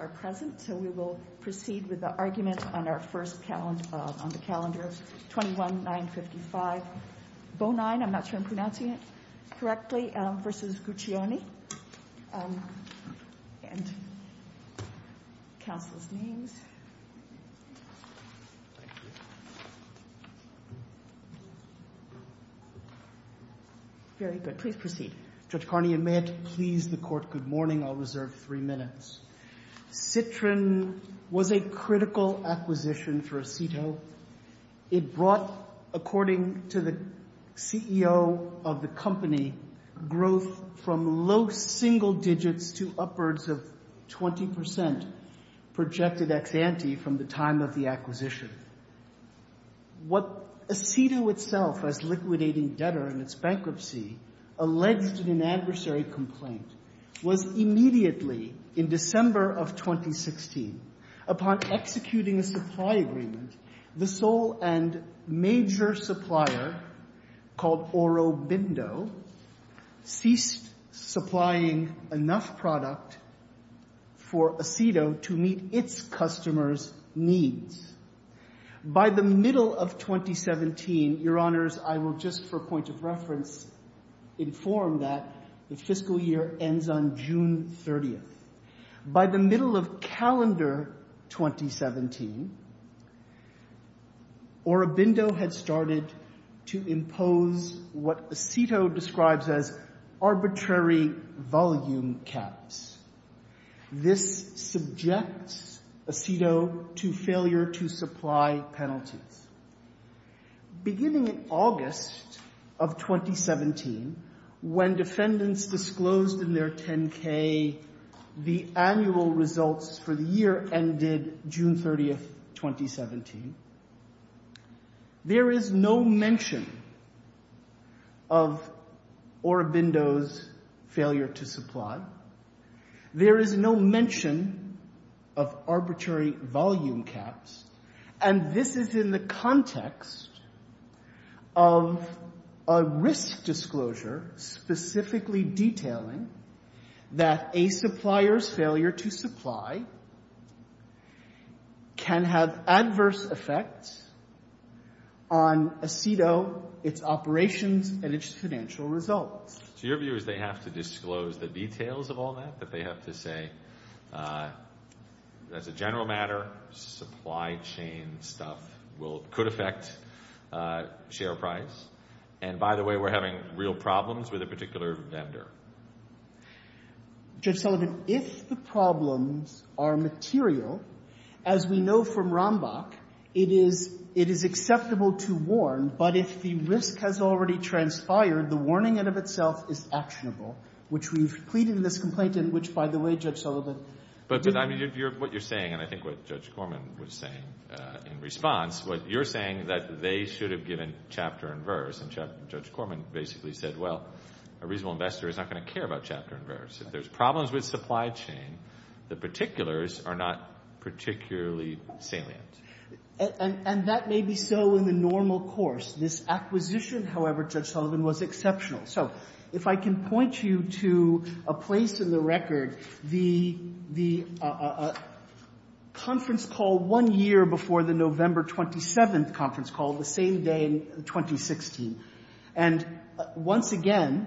are present, so we will proceed with the argument on our first calendar, on the calendar 21-955 Bonine, I'm not sure I'm pronouncing it correctly, versus Guccione, and counsel's names. Very good. Please proceed. Judge Carney, and may it please the Court, good morning. I'll reserve three minutes. Citrin was a critical acquisition for Aceto. It brought, according to the CEO of the company, growth from low single digits to upwards of 20% projected ex-ante from the time of the acquisition. What Aceto itself, as liquidating debtor in its bankruptcy, alleged in an adversary complaint was immediately, in December of 2016, upon executing a supply agreement, the sole and major supplier, called Oro Bindo, ceased supplying enough product for Aceto to meet its customers' needs. By the middle of 2017, Your Honors, I will just, for point of reference, inform that the fiscal year ends on June 30th. By the middle of calendar 2017, Oro Bindo had started to impose what Aceto describes as arbitrary volume caps. This subjects Aceto to failure to supply penalties. Beginning in August of 2017, when defendants disclosed in their 10-K the annual results for the year ended June 30th, 2017, there is no mention of Oro Bindo's failure to supply. There is no mention of arbitrary volume caps, and this is in the context of a risk disclosure specifically detailing that a supplier's failure to supply can have adverse effects on Aceto, its operations, and its financial results. So your view is they have to disclose the details of all that? That they have to say, as a general matter, supply chain stuff could affect share price? And by the way, we're having real problems with a particular vendor? Judge Sullivan, if the problems are material, as we know from Rambach, it is acceptable to warn, but if the risk has already transpired, the warning in and of itself is actionable, which we've pleaded in this complaint in which, by the way, Judge Sullivan. But what you're saying, and I think what Judge Corman was saying in response, what you're saying that they should have given chapter and verse, and Judge Corman basically said, well, a reasonable investor is not going to care about chapter and verse. If there's problems with supply chain, the particulars are not particularly salient. And that may be so in the normal course. This acquisition, however, Judge Sullivan, was exceptional. So if I can point you to a place in the record, the conference call one year before the November 27th conference call, the same day in 2016, and once again.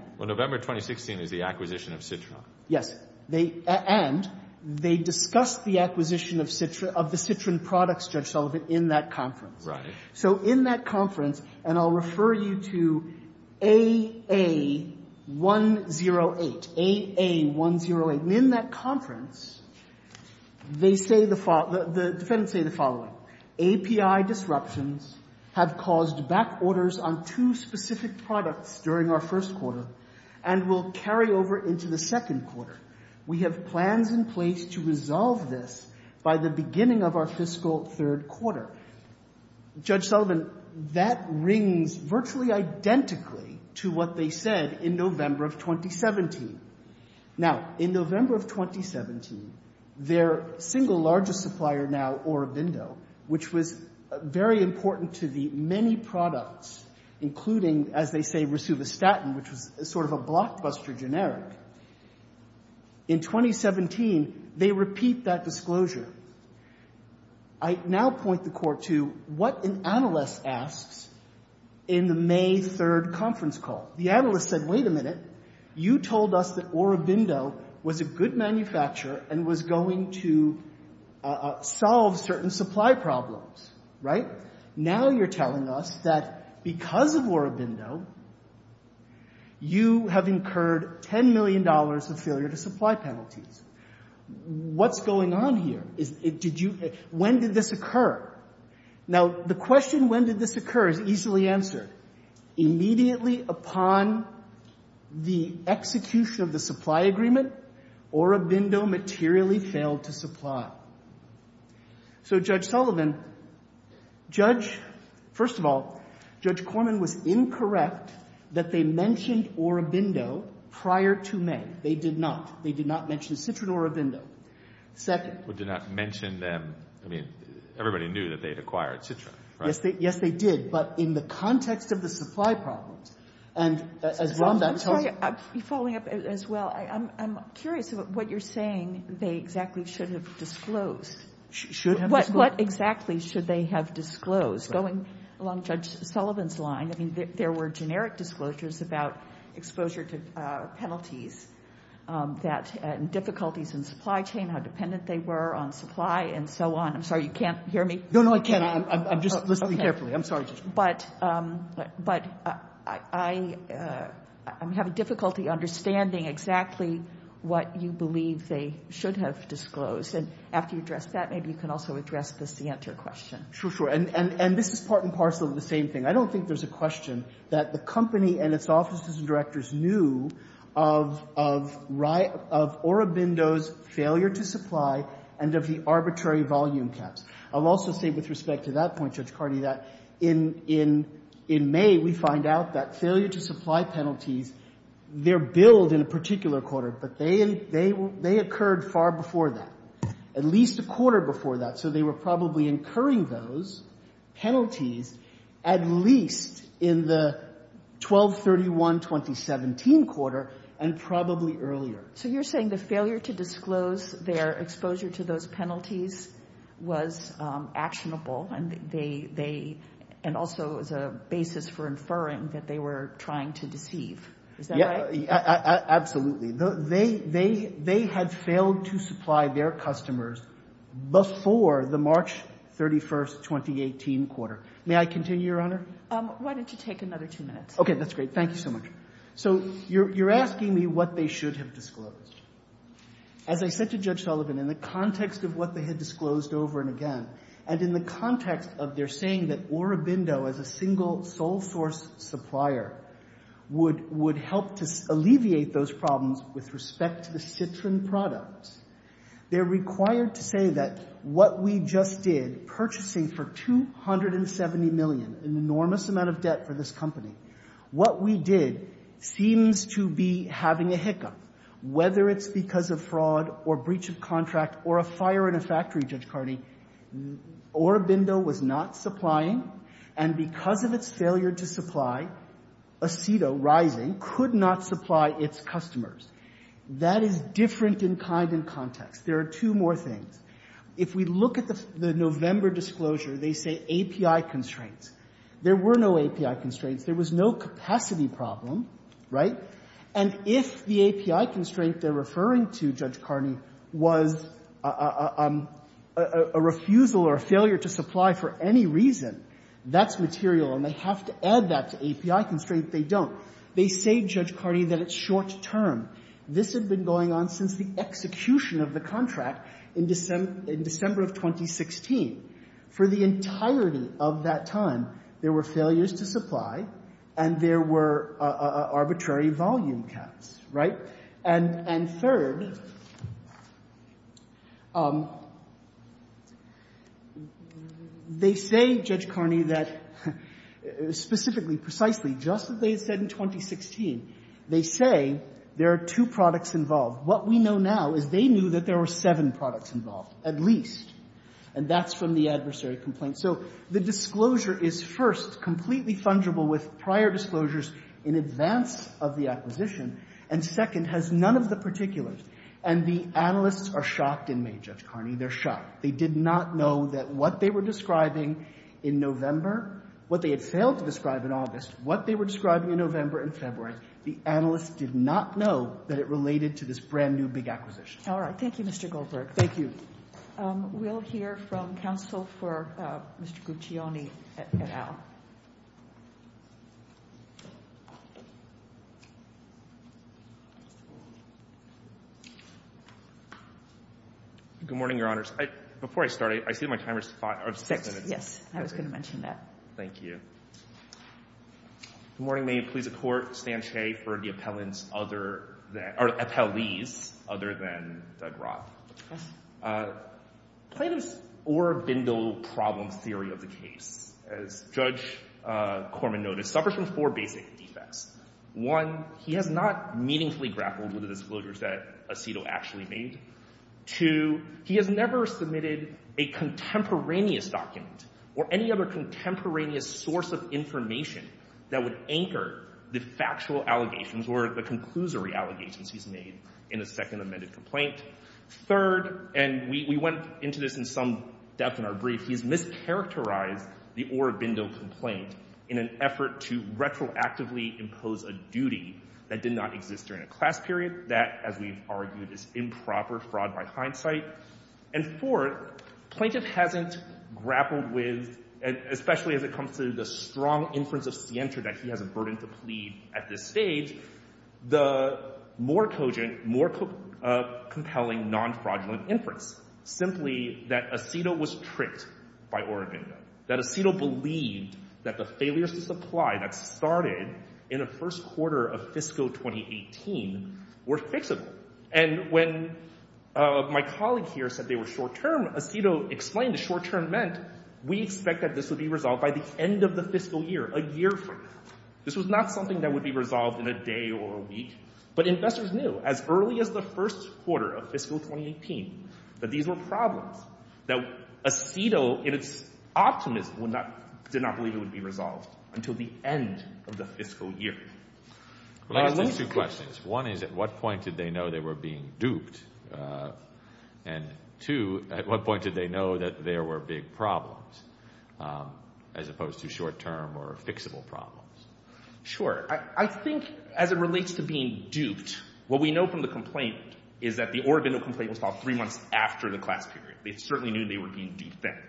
Yes. And they discussed the acquisition of the Citrin products, Judge Sullivan, in that conference. So in that conference, and I'll refer you to AA-108, AA-108, and in that conference, they say the following, the defendants say the following, API disruptions have caused back orders on two specific products during our first quarter and will carry over into the second quarter. We have plans in place to resolve this by the beginning of our fiscal third quarter. Judge Sullivan, that rings virtually identically to what they said in November of 2017. Now, in November of 2017, their single largest supplier now, Orobindo, which was very important to the many products, including, as they say, Resuvastatin, which was sort of a blockbuster generic, in 2017, they repeat that disclosure. I now point the court to what an analyst asks in the May 3rd conference call. The analyst said, wait a minute. You told us that Orobindo was a good manufacturer and was going to solve certain supply problems, right? Now you're telling us that because of Orobindo, you have incurred $10 million of failure to supply penalties. What's going on here? When did this occur? Now, the question when did this occur is easily answered. Immediately upon the execution of the supply agreement, Orobindo materially failed to supply. So, Judge Sullivan, Judge — first of all, Judge Corman was incorrect that they mentioned Orobindo prior to May. They did not. They did not mention Citrin Orobindo. Second — But did not mention them — I mean, everybody knew that they had acquired Citrin, right? Yes, they did. But in the context of the supply problems, and as Rhonda — I'm sorry, following up as well, I'm curious about what you're saying they exactly should have disclosed. What exactly should they have disclosed? Going along Judge Sullivan's line, I mean, there were generic disclosures about exposure to penalties that — and difficulties in supply chain, how dependent they were on supply, and so on. I'm sorry, you can't hear me? No, no, I can. I'm just listening carefully. I'm sorry, Judge. But I'm having difficulty understanding exactly what you believe they should have disclosed. And after you address that, maybe you can also address the CNTR question. Sure, sure. And this is part and parcel of the same thing. I don't think there's a question that the company and its offices and directors knew of Orobindo's failure to supply and of the arbitrary volume caps. I'll also say with respect to that point, Judge Cardi, that in May we find out that failure to supply penalties, they're billed in a particular quarter, but they occurred far before that, at least a quarter before that. So they were probably incurring those penalties at least in the 12-31-2017 quarter and probably earlier. So you're saying the failure to disclose their exposure to those penalties was actionable and they — and also as a basis for inferring that they were trying to deceive. Is that right? Yeah, absolutely. They had failed to supply their customers before the March 31, 2018 quarter. May I continue, Your Honor? Why don't you take another two minutes? Okay, that's great. Thank you so much. So you're asking me what they should have disclosed. As I said to Judge Sullivan, in the context of what they had disclosed over and again, and in the context of their saying that Orobindo as a single sole source supplier would help to alleviate those problems with respect to the Citrin products, they're required to say that what we just did, purchasing for $270 million, an enormous amount of debt for this company, what we did seems to be having a hiccup. Whether it's because of fraud or breach of contract or a fire in a factory, Judge Carney, Orobindo was not supplying, and because of its failure to supply, Aceto, rising, could not supply its customers. That is different in kind and context. There are two more things. If we look at the November disclosure, they say API constraints. There were no API constraints. There was no capacity problem, right? And if the API constraint they're referring to, Judge Carney, was a refusal or a failure to supply for any reason, that's material, and they have to add that to API constraint. They don't. They say, Judge Carney, that it's short term. This had been going on since the execution of the contract in December of 2016. For the entirety of that time, there were failures to supply, and there were arbitrary volume caps, right? And third, they say, Judge Carney, that specifically, precisely, just as they said in 2016, they say there are two products involved. What we know now is they knew that there were seven products involved, at least, and that's from the adversary complaint. So the disclosure is, first, completely fungible with prior disclosures in advance of the acquisition, and second, has none of the particulars. And the analysts are shocked in me, Judge Carney. They're shocked. They did not know that what they were describing in November, what they had failed to describe in August, what they were describing in November and February, the analysts did not know that it related to this brand new big acquisition. All right. Thank you, Mr. Goldberg. Thank you. We'll hear from counsel for Mr. Guccione and Al. Good morning, Your Honors. Before I start, I see my timer is five or six minutes. Yes. I was going to mention that. Thank you. Good morning. May it please the Court. Stan Shea for the appellants other than, or appellees, other than Doug Roth. Plaintiffs' Orr-Bindell problem theory of the case, as Judge Corman noted, suffers from four basic defects. One, he has not meaningfully grappled with the disclosures that Aceto actually made. Two, he has never submitted a contemporaneous document or any other contemporaneous source of information that would anchor the factual allegations or the conclusory allegations he's made in a second amended complaint. Third, and we went into this in some depth in our brief, he's mischaracterized the Orr-Bindell complaint in an effort to retroactively impose a duty that did not exist during a class period. That, as we've argued, is improper fraud by hindsight. And fourth, plaintiff hasn't grappled with, especially as it comes to the strong inference of Sienta that he has a burden to plead at this stage, the more cogent, more compelling, non-fraudulent inference, simply that Aceto was tricked by Orr-Bindell. That Aceto believed that the failures to supply that started in the first quarter of fiscal 2018 were fixable. And when my colleague here said they were short-term, Aceto explained the short-term meant, we expect that this would be resolved by the end of the fiscal year, a year from now. This was not something that would be resolved in a day or a week. But investors knew, as early as the first quarter of fiscal 2018, that these were problems. That Aceto, in its optimism, did not believe it would be resolved until the end of the fiscal year. Well, I guess there's two questions. One is, at what point did they know they were being duped? And two, at what point did they know that there were big problems, as opposed to short-term or fixable problems? Sure. I think, as it relates to being duped, what we know from the complaint is that the Orr-Bindell complaint was filed three months after the class period. They certainly knew they were being defamed.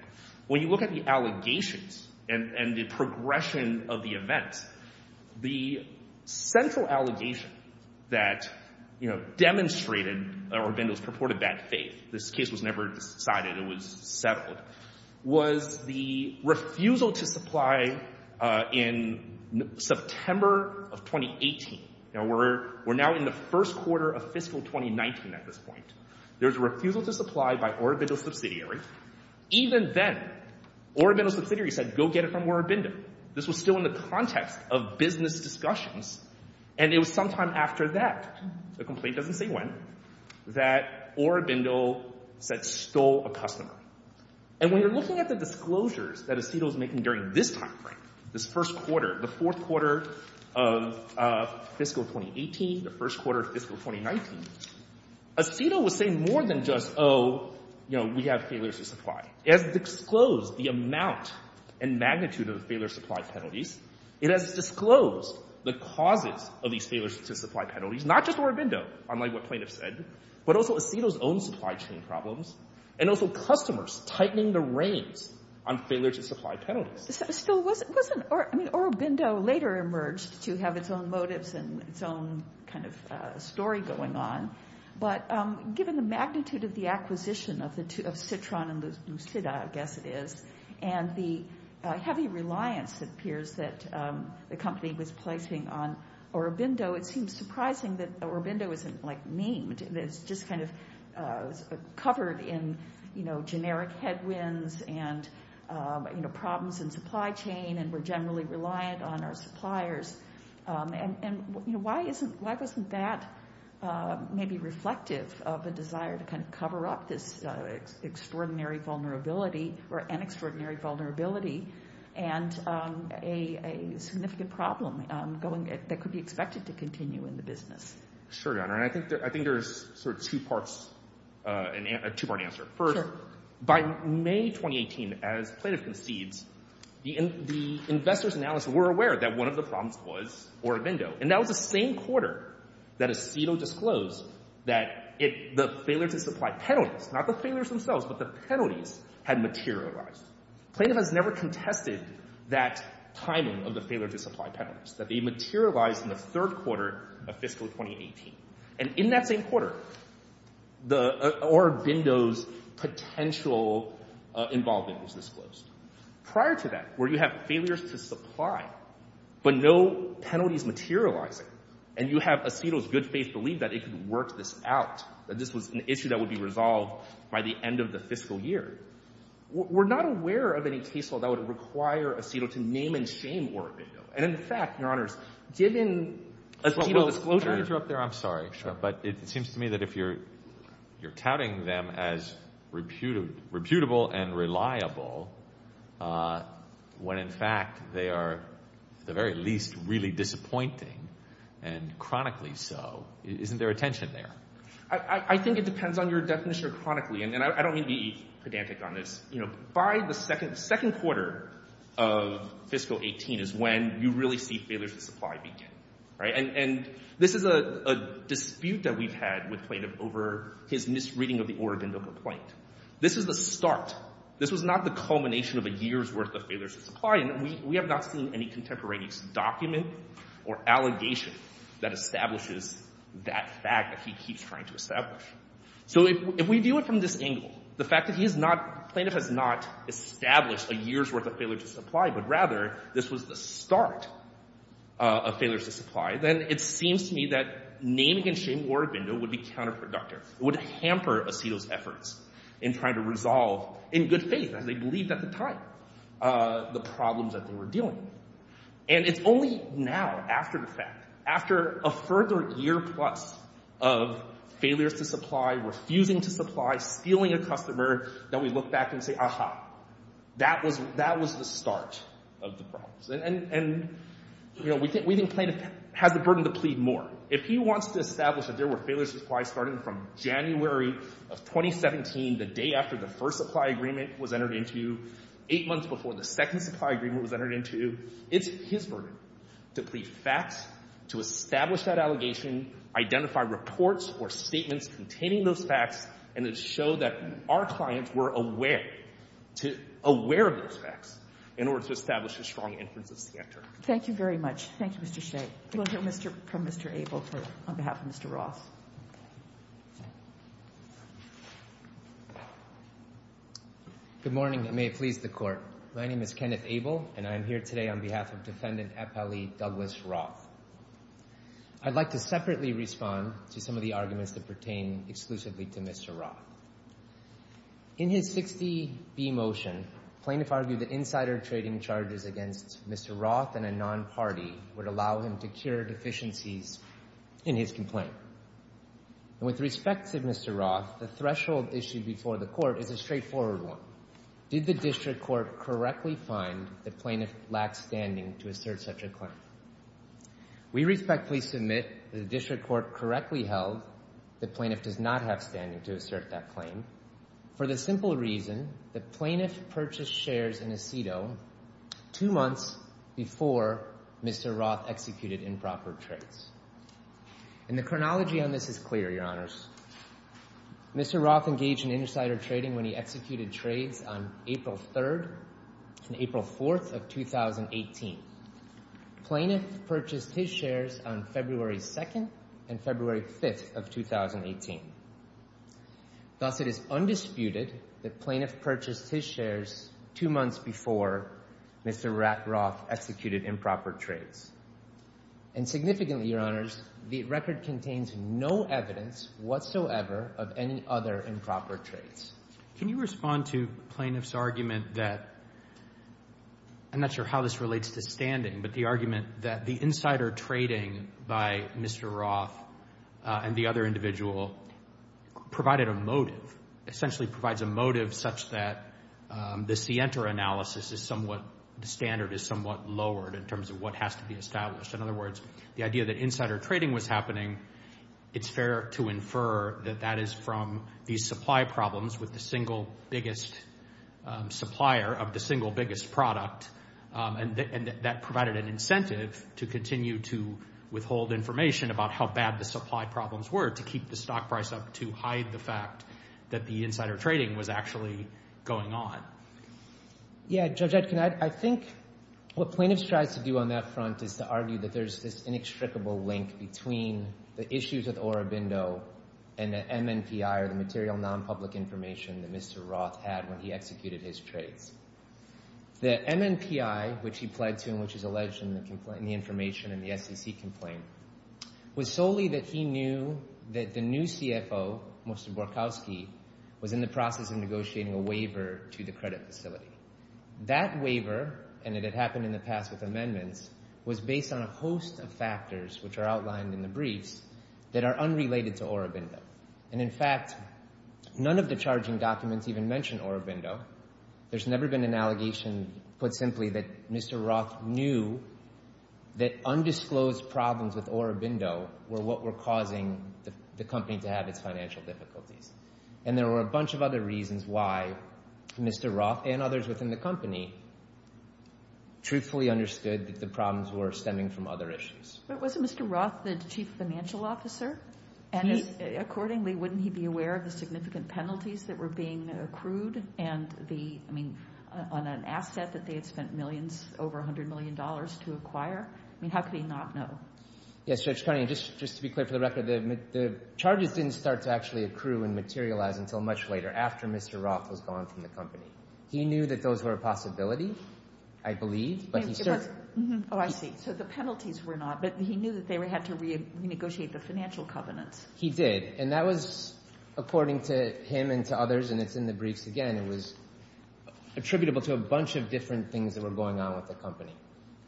When you look at the allegations and the progression of the events, the central allegation that demonstrated Orr-Bindell's purported bad faith—this case was never decided, it was settled—was the refusal to supply in September of 2018. We're now in the first quarter of fiscal 2019 at this point. There's a refusal to supply by Orr-Bindell's subsidiary. Even then, Orr-Bindell's subsidiary said, go get it from Orr-Bindell. This was still in the context of business discussions, and it was sometime after that—the complaint doesn't say when—that Orr-Bindell said, stole a customer. And when you're looking at the disclosures that Aceto was making during this time frame, this first quarter, the fourth quarter of fiscal 2018, the first quarter of fiscal 2019, Aceto was saying more than just, oh, you know, we have failures to supply. It has disclosed the amount and magnitude of the failure to supply penalties. It has disclosed the causes of these failures to supply penalties, not just Orr-Bindell, unlike what plaintiffs said, but also Aceto's own supply chain problems, and also customers tightening the reins on failure to supply penalties. Still wasn't—I mean, Orr-Bindell later emerged to have its own motives and its own story going on, but given the magnitude of the acquisition of Citron and Lucida, I guess it is, and the heavy reliance, it appears, that the company was placing on Orr-Bindell, it seems surprising that Orr-Bindell isn't memed. It's just kind of covered in generic headwinds and problems in supply chain, and we're generally reliant on our suppliers. And, you know, why isn't—why wasn't that maybe reflective of a desire to kind of cover up this extraordinary vulnerability, or an extraordinary vulnerability, and a significant problem that could be expected to continue in the business? Sure, Your Honor, and I think there's sort of two parts—a two-part answer. First, by May 2018, as plaintiff concedes, the investors and analysts were aware that one of the problems was Orr-Bindell, and that was the same quarter that Aceto disclosed that the failure to supply penalties—not the failures themselves, but the penalties—had materialized. Plaintiff has never contested that timing of the failure to supply penalties, that they materialized in the third quarter of fiscal 2018. And in that same quarter, Orr-Bindell's potential involvement was disclosed. Prior to that, where you have failures to supply, but no penalties materializing, and you have Aceto's good faith belief that it could work this out, that this was an issue that would be resolved by the end of the fiscal year, we're not aware of any case law that would require Aceto to name and shame Orr-Bindell. And in fact, Your Honors, given Aceto's disclosure— Can I interrupt there? I'm sorry, but it seems to me that if you're touting them as reputable and reliable, when in fact they are, at the very least, really disappointing, and chronically so, isn't there a tension there? I think it depends on your definition of chronically, and I don't mean to be pedantic on this. You know, by the second quarter of fiscal 2018 is when you really see failures to supply begin. And this is a dispute that we've had with Plaintiff over his misreading of the Orr-Bindell complaint. This is the start. This was not the culmination of a year's worth of failures to supply, and we have not seen any contemporaneous document or allegation that establishes that fact that he keeps trying to establish. So if we view it from this angle, the fact that he has not— Plaintiff has not established a year's worth of failures to supply, but rather, this was the start of failures to supply, then it seems to me that naming and shaming Orr-Bindell would be counterproductive. It would hamper Aceto's efforts in trying to resolve, in good faith, as they believed at the time, the problems that they were dealing with. And it's only now, after the fact, after a further year plus of failures to supply, refusing to supply, stealing a customer, that we look back and say, that was the start of the problems. And we think Plaintiff has the burden to plead more. If he wants to establish that there were failures to supply starting from January of 2017, the day after the first supply agreement was entered into, eight months before the second supply agreement was entered into, it's his burden to plead facts, to establish that allegation, identify reports or statements containing those facts, and to show that our clients were aware of those facts, in order to establish a strong inference of scant return. Thank you very much. Thank you, Mr. Shea. We'll hear from Mr. Abel on behalf of Mr. Roth. Good morning, and may it please the Court. My name is Kenneth Abel, and I'm here today on behalf of Defendant Epeli Douglas Roth. I'd like to separately respond to some of the arguments that pertain exclusively to Mr. Roth. In his 60B motion, Plaintiff argued that insider trading charges against Mr. Roth and a non-party would allow him to cure deficiencies in his complaint. With respect to Mr. Roth, the threshold issued before the Court is a straightforward one. Did the District Court correctly find that Plaintiff lacks standing to assert such a claim? We respectfully submit that the District Court correctly held that Plaintiff does not have standing to assert that claim, for the simple reason that Plaintiff purchased shares in Aceto two months before Mr. Roth executed improper trades. And the chronology on this is clear, Your Honors. Mr. Roth engaged in insider trading when he executed trades on April 3rd and April 4th of 2018. Plaintiff purchased his shares on February 2nd and February 5th of 2018. Thus, it is undisputed that Plaintiff purchased his shares two months before Mr. Roth executed improper trades. And significantly, Your Honors, the record contains no evidence whatsoever of any other improper trades. Can you respond to Plaintiff's argument that, I'm not sure how this relates to standing, but the argument that the insider trading by Mr. Roth and the other individual provided a motive, essentially provides a motive such that the scienter analysis is somewhat, the standard is somewhat lowered in terms of what has to be established. It's fair to infer that that is from the supply problems with the single biggest supplier of the single biggest product. And that provided an incentive to continue to withhold information about how bad the supply problems were to keep the stock price up to hide the fact that the insider trading was actually going on. Yeah, Judge Etkin, I think what Plaintiff tries to do on that front is to argue that there's this inextricable link between the issues with Orobindo and the MNPI or the material non-public information that Mr. Roth had when he executed his trades. The MNPI, which he pledged to and which is alleged in the information in the SEC complaint, was solely that he knew that the new CFO, Mr. Borkowski, was in the process of negotiating a waiver to the credit facility. That waiver, and it had happened in the past with amendments, was based on a host of factors, which are outlined in the briefs, that are unrelated to Orobindo. And in fact, none of the charging documents even mention Orobindo. There's never been an allegation put simply that Mr. Roth knew that undisclosed problems with Orobindo were what were causing the company to have its financial difficulties. And there were a bunch of other reasons why Mr. Roth and others within the company truthfully understood that the problems were stemming from other issues. But wasn't Mr. Roth the chief financial officer? And accordingly, wouldn't he be aware of the significant penalties that were being accrued and the, I mean, on an asset that they had spent millions, over $100 million to acquire? I mean, how could he not know? Yes, Judge Carney, just to be clear for the record, the charges didn't start to actually accrue and materialize until much later, after Mr. Roth was gone from the company. He knew that those were a possibility, I believe. Oh, I see. So the penalties were not, but he knew that they had to renegotiate the financial covenants. He did. And that was, according to him and to others, and it's in the briefs again, it was attributable to a bunch of different things that were going on with the company.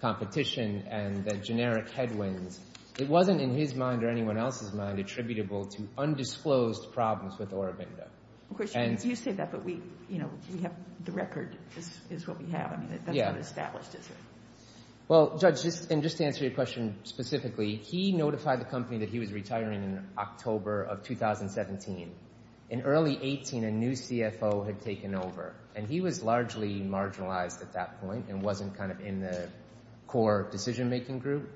Competition and the generic headwinds. It wasn't in his mind or anyone else's mind attributable to undisclosed problems with Orobindo. Of course, you say that, but the record is what we have. I mean, that's not established, is it? Well, Judge, and just to answer your question specifically, he notified the company that he was retiring in October of 2017. In early 2018, a new CFO had taken over, and he was largely marginalized at that point and wasn't kind of in the core decision-making group.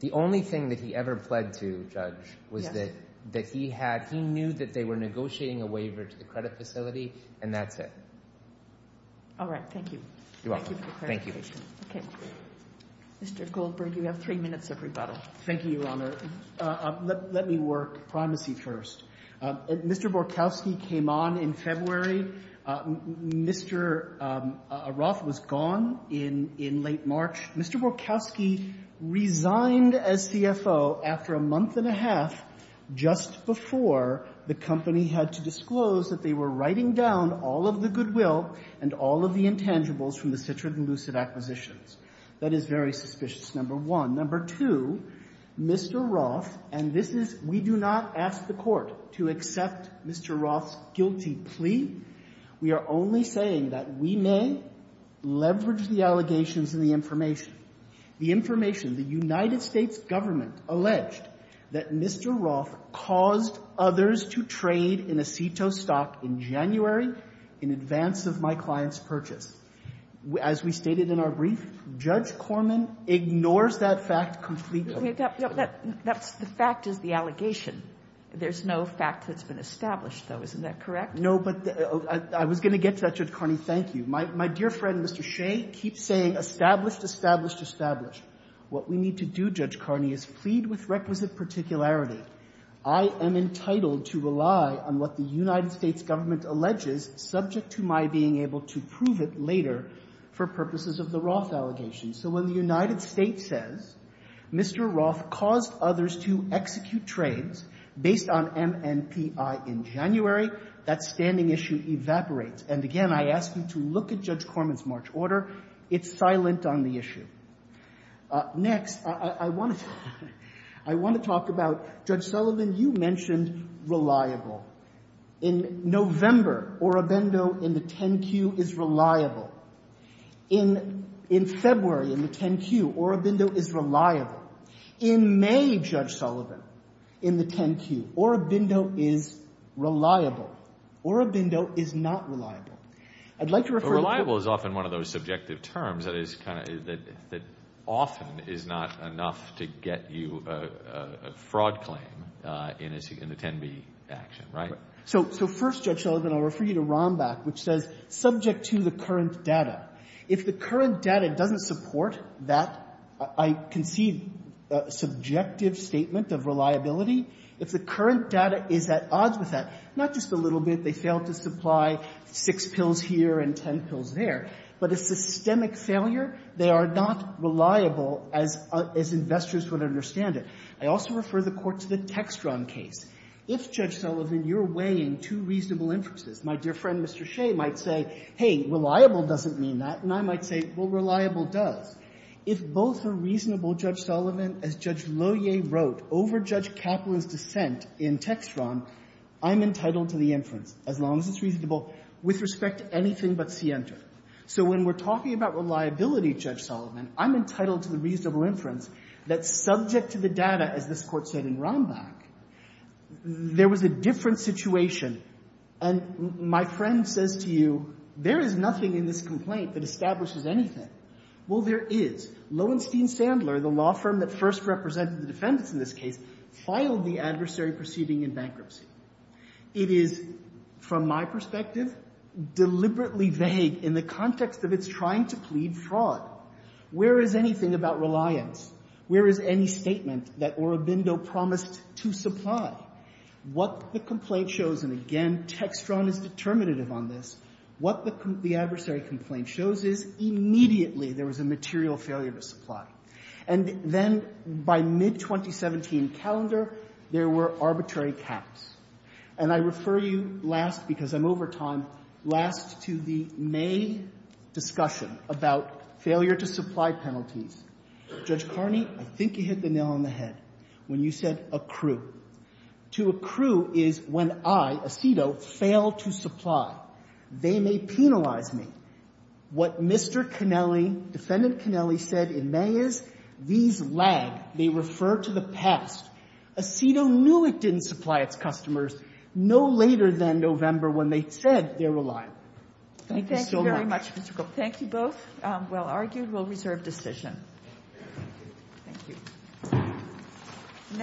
The only thing that he ever pled to, Judge, was that he knew that they were negotiating a waiver to the credit facility, and that's it. All right. Thank you. You're welcome. Thank you. Okay. Mr. Goldberg, you have three minutes of rebuttal. Thank you, Your Honor. Let me work primacy first. Mr. Borkowski came on in February. Mr. Roth was gone in late March. Mr. Borkowski resigned as CFO after a month and a half, just before the company had to disclose that they were writing down all of the goodwill and all of the intangibles from the Citrin and Lucid acquisitions. That is very suspicious, number one. Number two, Mr. Roth, and this is we do not ask the Court to accept Mr. Roth's guilty plea. We are only saying that we may leverage the allegations and the information. The information, the United States government alleged that Mr. Roth caused others to trade in Aceto stock in January in advance of my client's purchase. As we stated in our brief, Judge Corman ignores that fact completely. That's the fact is the allegation. There's no fact that's been established, though. Isn't that correct? No, but I was going to get to that, Judge Carney. Thank you. My dear friend, Mr. Shea, keeps saying established, established, established. What we need to do, Judge Carney, is plead with requisite particularity. I am entitled to rely on what the United States government alleges, subject to my being able to prove it later for purposes of the Roth allegations. So when the United States says Mr. Roth caused others to execute trades based on MNPI in January, that standing issue evaporates. And again, I ask you to look at Judge Corman's March order. It's silent on the issue. Next, I want to talk about Judge Sullivan. You mentioned reliable. In November, Orobindo in the 10-Q is reliable. In February, in the 10-Q, Orobindo is reliable. In May, Judge Sullivan, in the 10-Q, Orobindo is reliable. Orobindo is not reliable. I'd like to refer to the— But reliable is often one of those subjective terms that is kind of — that often is not enough to get you a fraud claim in the 10-B action, right? So first, Judge Sullivan, I'll refer you to Rombach, which says subject to the current data. If the current data doesn't support that, I concede a subjective statement of reliability. If the current data is at odds with that, not just a little bit. They failed to supply 6 pills here and 10 pills there. But a systemic failure, they are not reliable as — as investors would understand it. I also refer the Court to the Textron case. If, Judge Sullivan, you're weighing two reasonable inferences, my dear friend, Mr. Shea, might say, hey, reliable doesn't mean that. And I might say, well, reliable does. If both are reasonable, Judge Sullivan, as Judge Lohier wrote over Judge Kaplan's dissent in Textron, I'm entitled to the inference, as long as it's reasonable with respect to anything but Sienta. So when we're talking about reliability, Judge Sullivan, I'm entitled to the reasonable inference that subject to the data, as this Court said in Rombach, there was a different situation. And my friend says to you, there is nothing in this complaint that establishes anything. Well, there is. Lowenstein-Sandler, the law firm that first represented the defendants in this case, filed the adversary proceeding in bankruptcy. It is, from my perspective, deliberately vague in the context of its trying to plead fraud. Where is anything about reliance? Where is any statement that Orobindo promised to supply? What the complaint shows, and again, Textron is determinative on this, what the adversary complaint shows is immediately there was a material failure to supply. And then by mid-2017 calendar, there were arbitrary caps. And I refer you last, because I'm over time, last to the May discussion about failure to supply penalties. Judge Carney, I think you hit the nail on the head when you said accrue. To accrue is when I, Acido, fail to supply. They may penalize me. What Mr. Connelly, Defendant Connelly, said in May is these lag. They refer to the past. Acido knew it didn't supply its customers no later than November when they said they're reliant. Thank you so much. Thank you very much, Mr. Gold. Thank you both. Well argued. We'll reserve decision. Thank you.